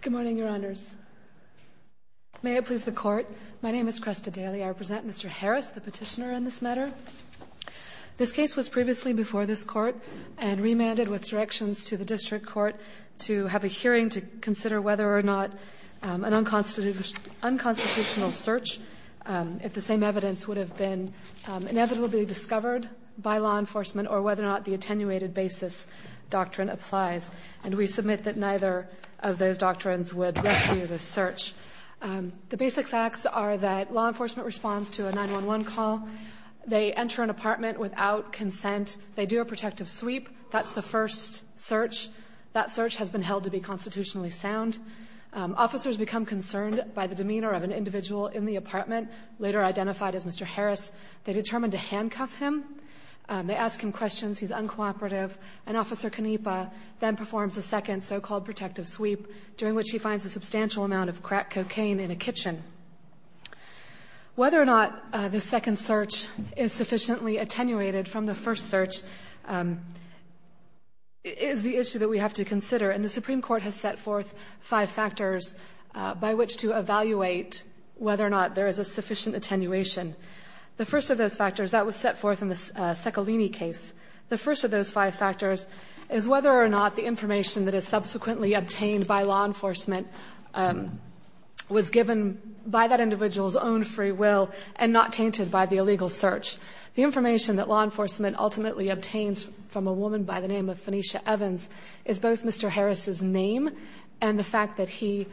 Good morning, Your Honors. May it please the Court, my name is Cresta Daly. I represent Mr. Harris, the petitioner on this matter. This case was previously before this Court and remanded with directions to the District Court to have a hearing to consider whether or not an unconstitutional search, if the same evidence would have been inevitably discovered by law enforcement or whether or not the attenuated basis doctrine applies. And we submit that neither of those doctrines would rescue this search. The basic facts are that law enforcement responds to a 911 call. They enter an apartment without consent. They do a protective sweep. That's the first search. That search has been held to be constitutionally sound. Officers become concerned by the demeanor of an individual in the apartment, later identified as Mr. Harris. They determine to handcuff him. They ask him questions. He's uncooperative. And Officer Canepa then performs a second so-called protective sweep, during which he finds a substantial amount of crack cocaine in a kitchen. Whether or not the second search is sufficiently attenuated from the first search is the issue that we have to consider. And the Supreme Court has set forth five factors by which to evaluate whether or not there is a sufficient attenuation. The first of those factors, that was set forth in the Seccolini case. The first of those five factors is whether or not the information that is subsequently obtained by law enforcement was given by that individual's own free will and not tainted by the illegal search. The information that law enforcement ultimately obtains from a woman by the name of Phoenicia Evans is both Mr. Harris's name and the fact that he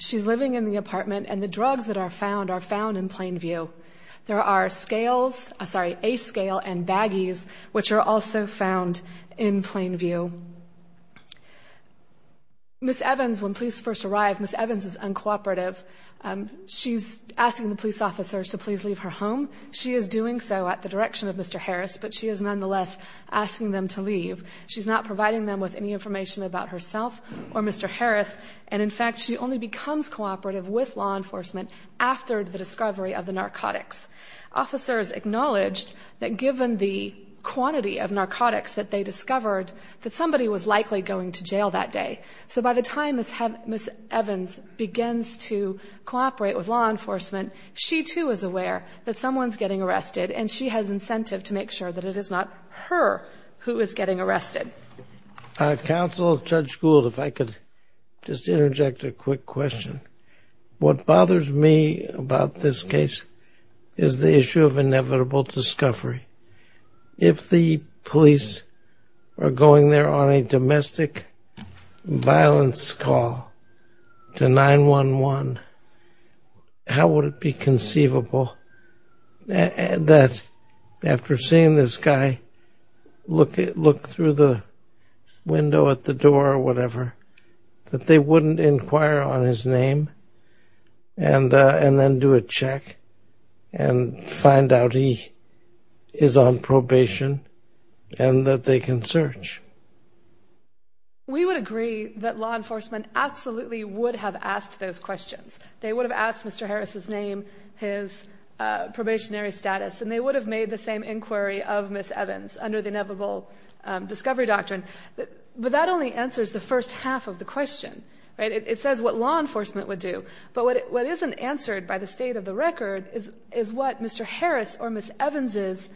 She's living in the apartment, and the drugs that are found are found in Plainview. There are scales, sorry, A-scale and baggies, which are also found in Plainview. Ms. Evans, when police first arrive, Ms. Evans is uncooperative. She's asking the police officers to please leave her home. She is doing so at the direction of Mr. Harris, but she is nonetheless asking them to leave. She's not providing them with any information about herself or Mr. Harris. And, in fact, she only becomes cooperative with law enforcement after the discovery of the narcotics. Officers acknowledged that given the quantity of narcotics that they discovered, that somebody was likely going to jail that day. So by the time Ms. Evans begins to cooperate with law enforcement, she, too, is aware that someone's getting arrested, and she has incentive to make sure that it is not her who is getting arrested. Counsel, Judge Gould, if I could just interject a quick question. What bothers me about this case is the issue of inevitable discovery. If the police are going there on a domestic violence call to 911, how would it be conceivable that after seeing this guy look through the window at the door or whatever, that they wouldn't inquire on his name and then do a check and find out he is on probation and that they can search? We would agree that law enforcement absolutely would have asked those questions. They would have asked Mr. Harris's name, his probationary status, and they would have made the same inquiry of Ms. Evans under the inevitable discovery doctrine. But that only answers the first half of the question, right? It says what law enforcement would do. But what isn't answered by the state of the record is what Mr. Harris or Ms. Evans's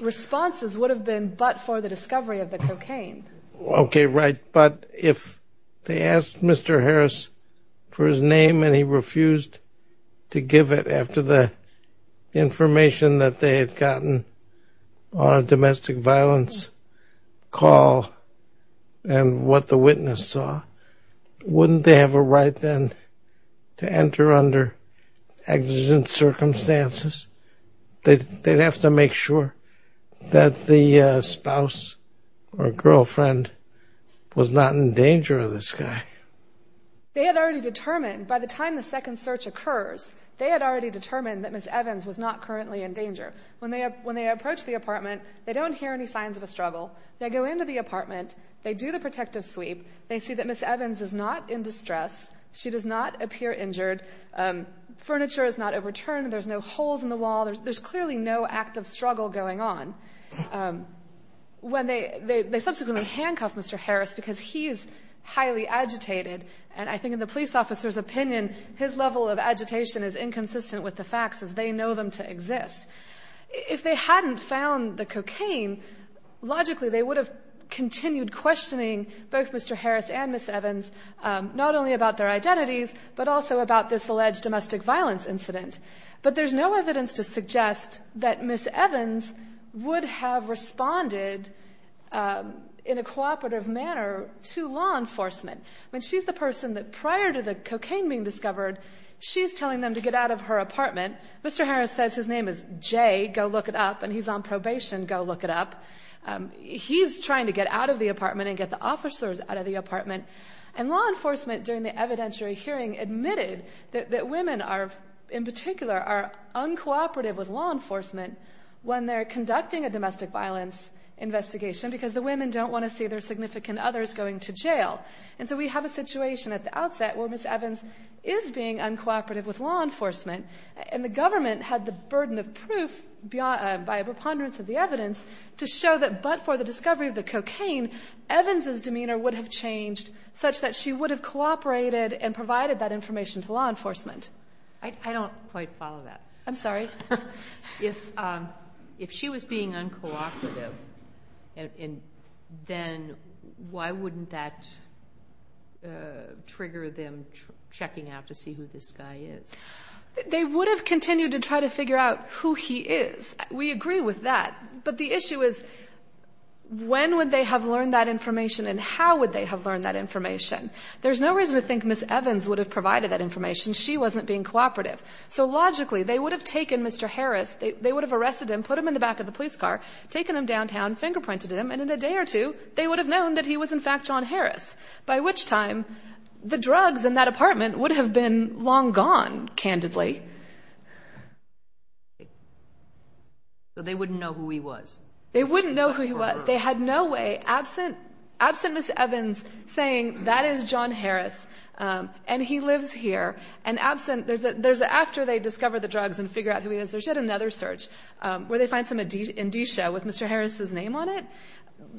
responses would have been but for the discovery of the cocaine. Okay, right. But if they asked Mr. Harris for his name and he refused to give it after the information that they had gotten on a domestic violence call and what the witness saw, wouldn't they have a right then to enter under exigent circumstances? They'd have to make sure that the spouse or girlfriend was not in danger of this guy. They had already determined by the time the second search occurs, they had already determined that Ms. Evans was not currently in danger. When they approach the apartment, they don't hear any signs of a struggle. They go into the apartment. They do the protective sweep. They see that Ms. Evans is not in distress. She does not appear injured. Furniture is not overturned. There's no holes in the wall. There's clearly no act of struggle going on. They subsequently handcuff Mr. Harris because he is highly agitated. And I think in the police officer's opinion, his level of agitation is inconsistent with the facts as they know them to exist. If they hadn't found the cocaine, logically they would have continued questioning both Mr. Harris and Ms. Evans, not only about their identities but also about this alleged domestic violence incident. But there's no evidence to suggest that Ms. Evans would have responded in a cooperative manner to law enforcement. I mean, she's the person that prior to the cocaine being discovered, she's telling them to get out of her apartment. Mr. Harris says his name is Jay. Go look it up. And he's on probation. Go look it up. He's trying to get out of the apartment and get the officers out of the apartment. And law enforcement during the evidentiary hearing admitted that women are, in particular, are uncooperative with law enforcement when they're conducting a domestic violence investigation because the women don't want to see their significant others going to jail. And so we have a situation at the outset where Ms. Evans is being uncooperative with law enforcement, and the government had the burden of proof by a preponderance of the evidence to show that but for the discovery of the cocaine, Evans's demeanor would have changed such that she would have cooperated and provided that information to law enforcement. I don't quite follow that. I'm sorry. If she was being uncooperative, then why wouldn't that trigger them checking out to see who this guy is? They would have continued to try to figure out who he is. We agree with that. But the issue is when would they have learned that information and how would they have learned that information? There's no reason to think Ms. Evans would have provided that information. She wasn't being cooperative. So logically, they would have taken Mr. Harris, they would have arrested him, put him in the back of the police car, taken him downtown, fingerprinted him, and in a day or two, they would have known that he was in fact John Harris, by which time the drugs in that apartment would have been long gone, candidly. So they wouldn't know who he was. They wouldn't know who he was. They had no way, absent Ms. Evans saying that is John Harris and he lives here, and absent there's after they discover the drugs and figure out who he is, there's yet another search where they find some indicia with Mr. Harris's name on it.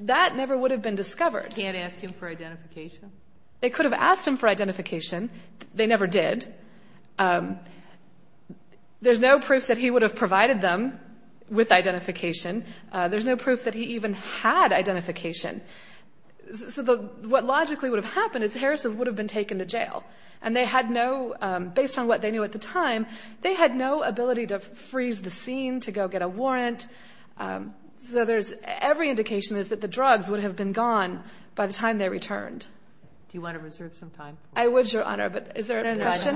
That never would have been discovered. They can't ask him for identification? They could have asked him for identification. They never did. There's no proof that he would have provided them with identification. There's no proof that he even had identification. So what logically would have happened is Harris would have been taken to jail, and they had no, based on what they knew at the time, they had no ability to freeze the scene, to go get a warrant. So every indication is that the drugs would have been gone by the time they returned. Do you want to reserve some time? I would, Your Honor, but is there a question?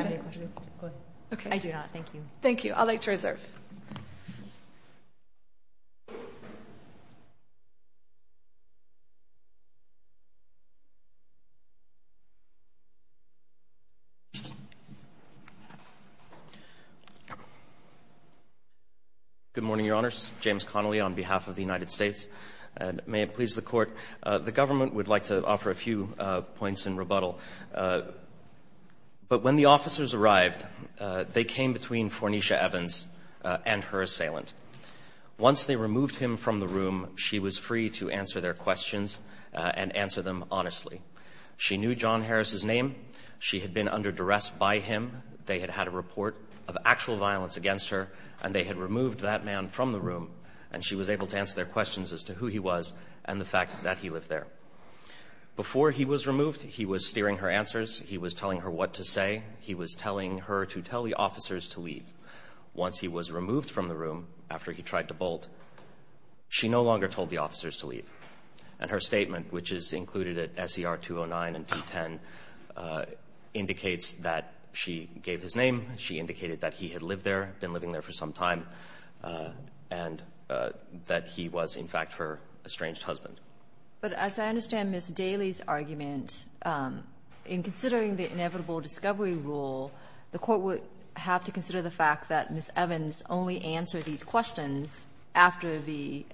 Go ahead. I do not. Thank you. I'd like to reserve. Thank you. Good morning, Your Honors. James Connolly on behalf of the United States, and may it please the Court, the government would like to offer a few points in rebuttal. But when the officers arrived, they came between Fornicia Evans and her assailant. Once they removed him from the room, she was free to answer their questions and answer them honestly. She knew John Harris's name. She had been under duress by him. They had had a report of actual violence against her, and they had removed that man from the room, and she was able to answer their questions as to who he was and the fact that he lived there. Before he was removed, he was steering her answers. He was telling her what to say. He was telling her to tell the officers to leave. Once he was removed from the room, after he tried to bolt, she no longer told the officers to leave. And her statement, which is included at SER 209 and P10, indicates that she gave his name. She indicated that he had lived there, been living there for some time, and that he was, in fact, her estranged husband. But as I understand Ms. Daly's argument, in considering the inevitable discovery rule, the Court would have to consider the fact that Ms. Evans only answered these questions after the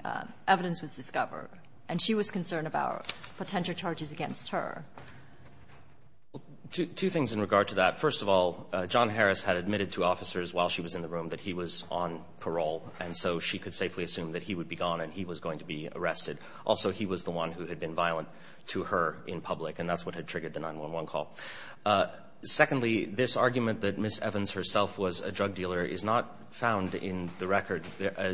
evidence was discovered, and she was concerned about potential charges against her. Two things in regard to that. First of all, John Harris had admitted to officers while she was in the room that he was on parole, and so she could safely assume that he would be gone and he was going to be arrested. Also, he was the one who had been violent to her in public, and that's what had triggered the 911 call. Secondly, this argument that Ms. Evans herself was a drug dealer is not found in the record.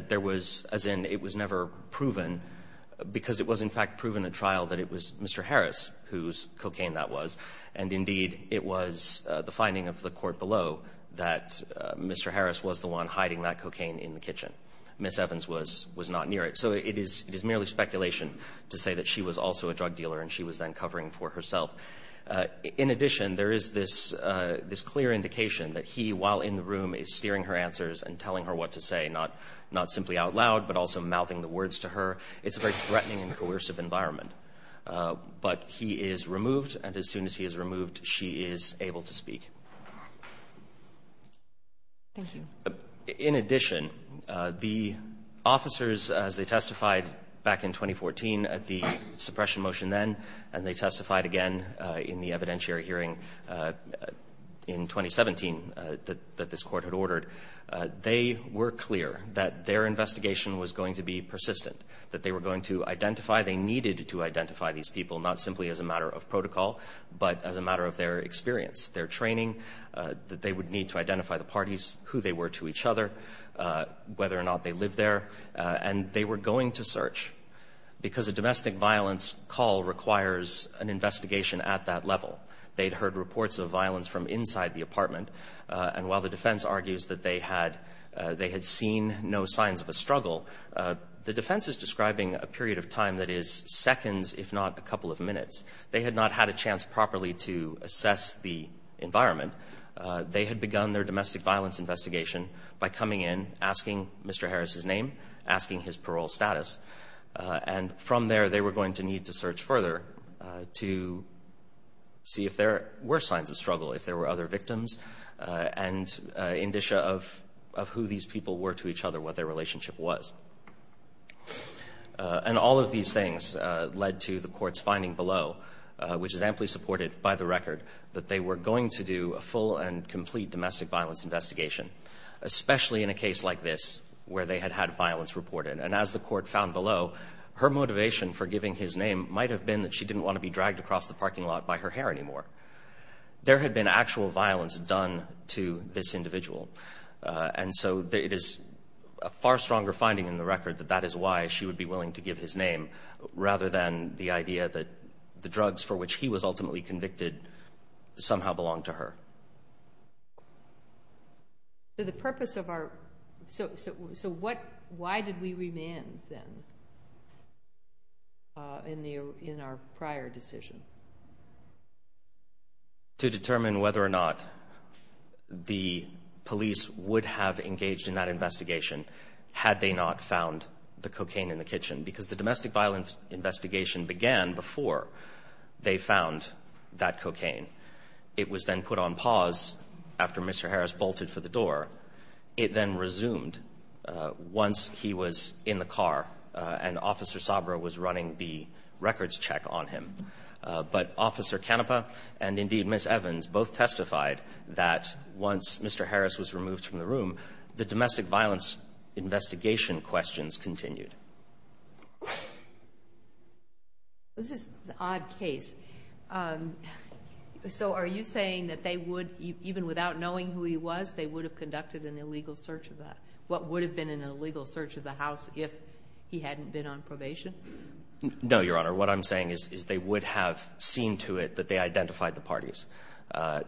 There was as in it was never proven, because it was, in fact, proven at trial that it was Mr. Harris whose cocaine that was. And indeed, it was the finding of the Court below that Mr. Harris was the one hiding that cocaine in the kitchen. Ms. Evans was not near it. So it is merely speculation to say that she was also a drug dealer and she was then covering for herself. In addition, there is this clear indication that he, while in the room, is steering her answers and telling her what to say, not simply out loud, but also mouthing the words to her. It's a very threatening and coercive environment. But he is removed, and as soon as he is removed, she is able to speak. Thank you. In addition, the officers, as they testified back in 2014 at the suppression motion then, and they testified again in the evidentiary hearing in 2017 that this Court had ordered, they were clear that their investigation was going to be persistent, that they were going to identify, they needed to identify these people, not simply as a matter of protocol, but as a matter of their experience, their training, that they would need to identify the parties, who they were to each other, whether or not they lived there. And they were going to search, because a domestic violence call requires an investigation at that level. They had heard reports of violence from inside the apartment. And while the defense argues that they had seen no signs of a struggle, the defense is describing a period of time that is seconds, if not a couple of minutes. They had not had a chance properly to assess the environment. They had begun their domestic violence investigation by coming in, asking Mr. Harris' name, asking his parole status. And from there, they were going to need to search further to see if there were signs of struggle, if there were other victims, and indicia of who these people were to each other, what their relationship was. And all of these things led to the court's finding below, which is amply supported by the record, that they were going to do a full and complete domestic violence investigation, especially in a case like this, where they had had violence reported. And as the court found below, her motivation for giving his name might have been that she didn't want to be dragged across the parking lot by her hair anymore. There had been actual violence done to this individual. And so it is a far stronger finding in the record that that is why she would be willing to give his name, rather than the idea that the drugs for which he was ultimately convicted somehow belonged to her. So the purpose of our—so why did we remand, then, in our prior decision? To determine whether or not the police would have engaged in that investigation had they not found the cocaine in the kitchen. Because the domestic violence investigation began before they found that cocaine. It was then put on pause after Mr. Harris bolted for the door. It then resumed once he was in the car and Officer Sabra was running the records check on him. But Officer Canepa and, indeed, Ms. Evans both testified that once Mr. Harris was removed from the room, the domestic violence investigation questions continued. This is an odd case. So are you saying that they would, even without knowing who he was, they would have conducted an illegal search of that? What would have been an illegal search of the house if he hadn't been on probation? No, Your Honor. What I'm saying is they would have seen to it that they identified the parties.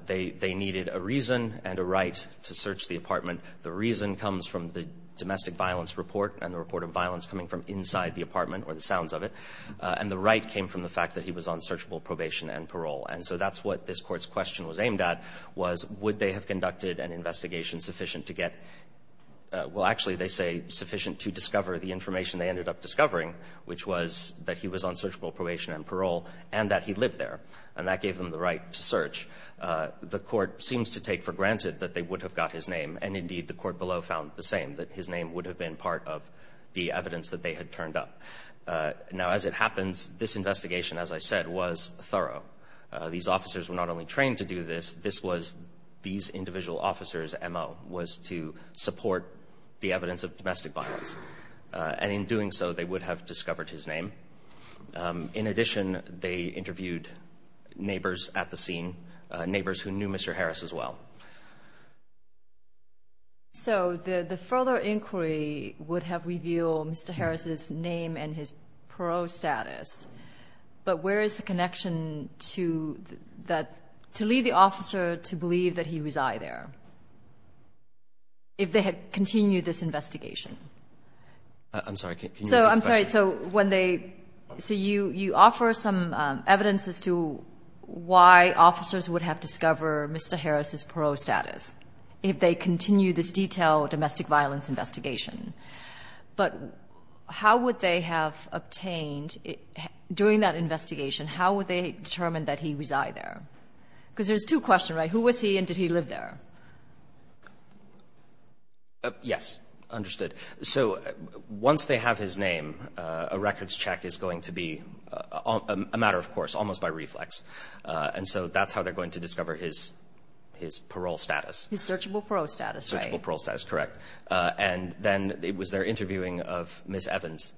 They needed a reason and a right to search the apartment. The reason comes from the domestic violence report and the report of violence coming from inside the apartment, or the sounds of it. And the right came from the fact that he was on searchable probation and parole. And so that's what this Court's question was aimed at, was would they have conducted an investigation sufficient to get — well, actually, they say sufficient to discover the information they ended up discovering, which was that he was on searchable probation and parole and that he lived there. And that gave them the right to search. The Court seems to take for granted that they would have got his name. And, indeed, the Court below found the same, that his name would have been part of the evidence that they had turned up. Now, as it happens, this investigation, as I said, was thorough. These officers were not only trained to do this. This was these individual officers' MO, was to support the evidence of domestic violence. And in doing so, they would have discovered his name. In addition, they interviewed neighbors at the scene, neighbors who knew Mr. Harris as well. So the further inquiry would have revealed Mr. Harris' name and his parole status. But where is the connection to that — to lead the officer to believe that he resides there if they had continued this investigation? I'm sorry, can you repeat the question? I'm sorry. So when they — so you offer some evidence as to why officers would have discovered Mr. Harris' parole status if they continued this detailed domestic violence investigation. But how would they have obtained, during that investigation, how would they determine that he resides there? Because there's two questions, right? Who was he and did he live there? Yes. Understood. So once they have his name, a records check is going to be a matter of course, almost by reflex. And so that's how they're going to discover his parole status. His searchable parole status, right? Searchable parole status, correct. And then it was their interviewing of Ms. Evans,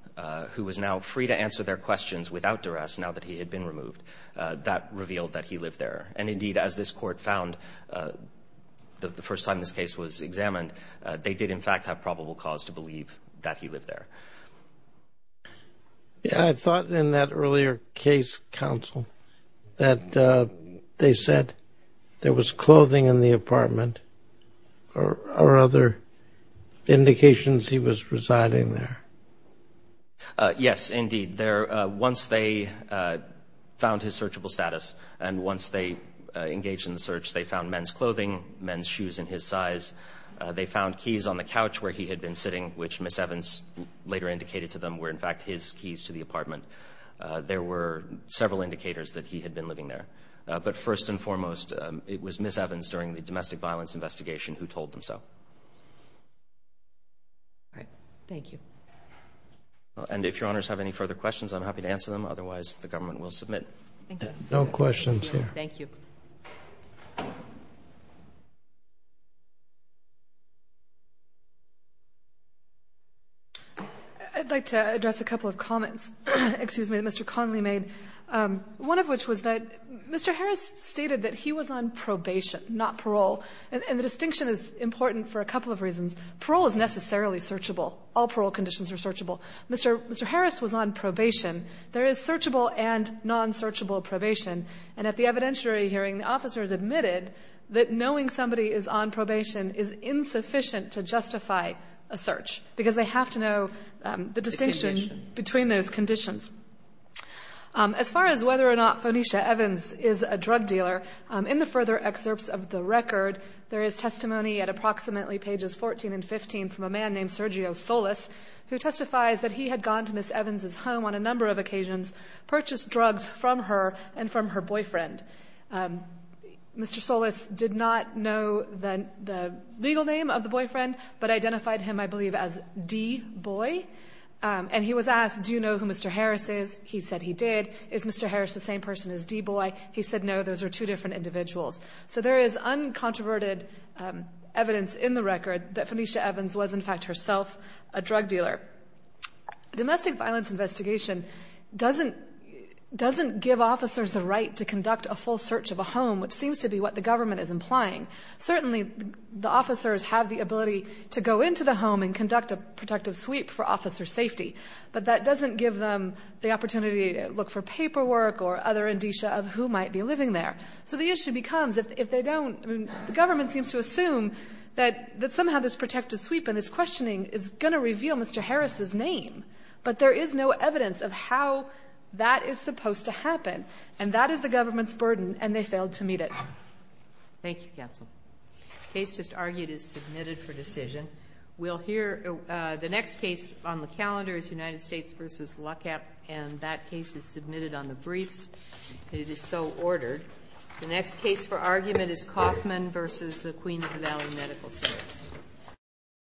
who was now free to answer their questions without duress now that he had been removed. That revealed that he lived there. And indeed, as this court found the first time this case was examined, they did in fact have probable cause to believe that he lived there. I thought in that earlier case, counsel, that they said there was clothing in the apartment or other indications he was residing there. Yes, indeed. Once they found his searchable status and once they engaged in the search, they found men's clothing, men's shoes in his size. They found keys on the couch where he had been sitting, which Ms. Evans later indicated to them were in fact his keys to the apartment. There were several indicators that he had been living there. But first and foremost, it was Ms. Evans during the domestic violence investigation who told them so. All right. Thank you. And if Your Honors have any further questions, I'm happy to answer them. Otherwise, the government will submit. Thank you. No questions here. Thank you. I'd like to address a couple of comments, excuse me, that Mr. Connolly made, one of which was that Mr. Harris stated that he was on probation, not parole. And the distinction is important for a couple of reasons. Parole is necessarily searchable. All parole conditions are searchable. Mr. Harris was on probation. There is searchable and non-searchable probation. And at the evidentiary hearing, the officers admitted that knowing somebody is on probation is insufficient to justify a search because they have to know the distinction between those conditions. As far as whether or not Phonesha Evans is a drug dealer, in the further excerpts of the record, there is testimony at approximately pages 14 and 15 from a man named Sergio Solis who testifies that he had gone to Ms. Evans' home on a number of occasions, purchased drugs from her and from her boyfriend. Mr. Solis did not know the legal name of the boyfriend, but identified him, I believe, as D-Boy. And he was asked, do you know who Mr. Harris is? He said he did. Is Mr. Harris the same person as D-Boy? He said no, those are two different individuals. So there is uncontroverted evidence in the record that Phonesha Evans was, in fact, herself a drug dealer. Domestic violence investigation doesn't give officers the right to conduct a full search of a home, which seems to be what the government is implying. Certainly, the officers have the ability to go into the home and conduct a protective sweep for officer safety, but that doesn't give them the opportunity to look for paperwork or other indicia of who might be living there. So the issue becomes, if they don't, I mean, the government seems to assume that somehow this protective sweep and this questioning is going to reveal Mr. Harris' name. But there is no evidence of how that is supposed to happen, and that is the government's burden, and they failed to meet it. Thank you, counsel. The case just argued is submitted for decision. We'll hear the next case on the calendar is United States v. Luckap, and that case is submitted on the briefs. It is so ordered. The next case for argument is Kauffman v. Queens Valley Medical School.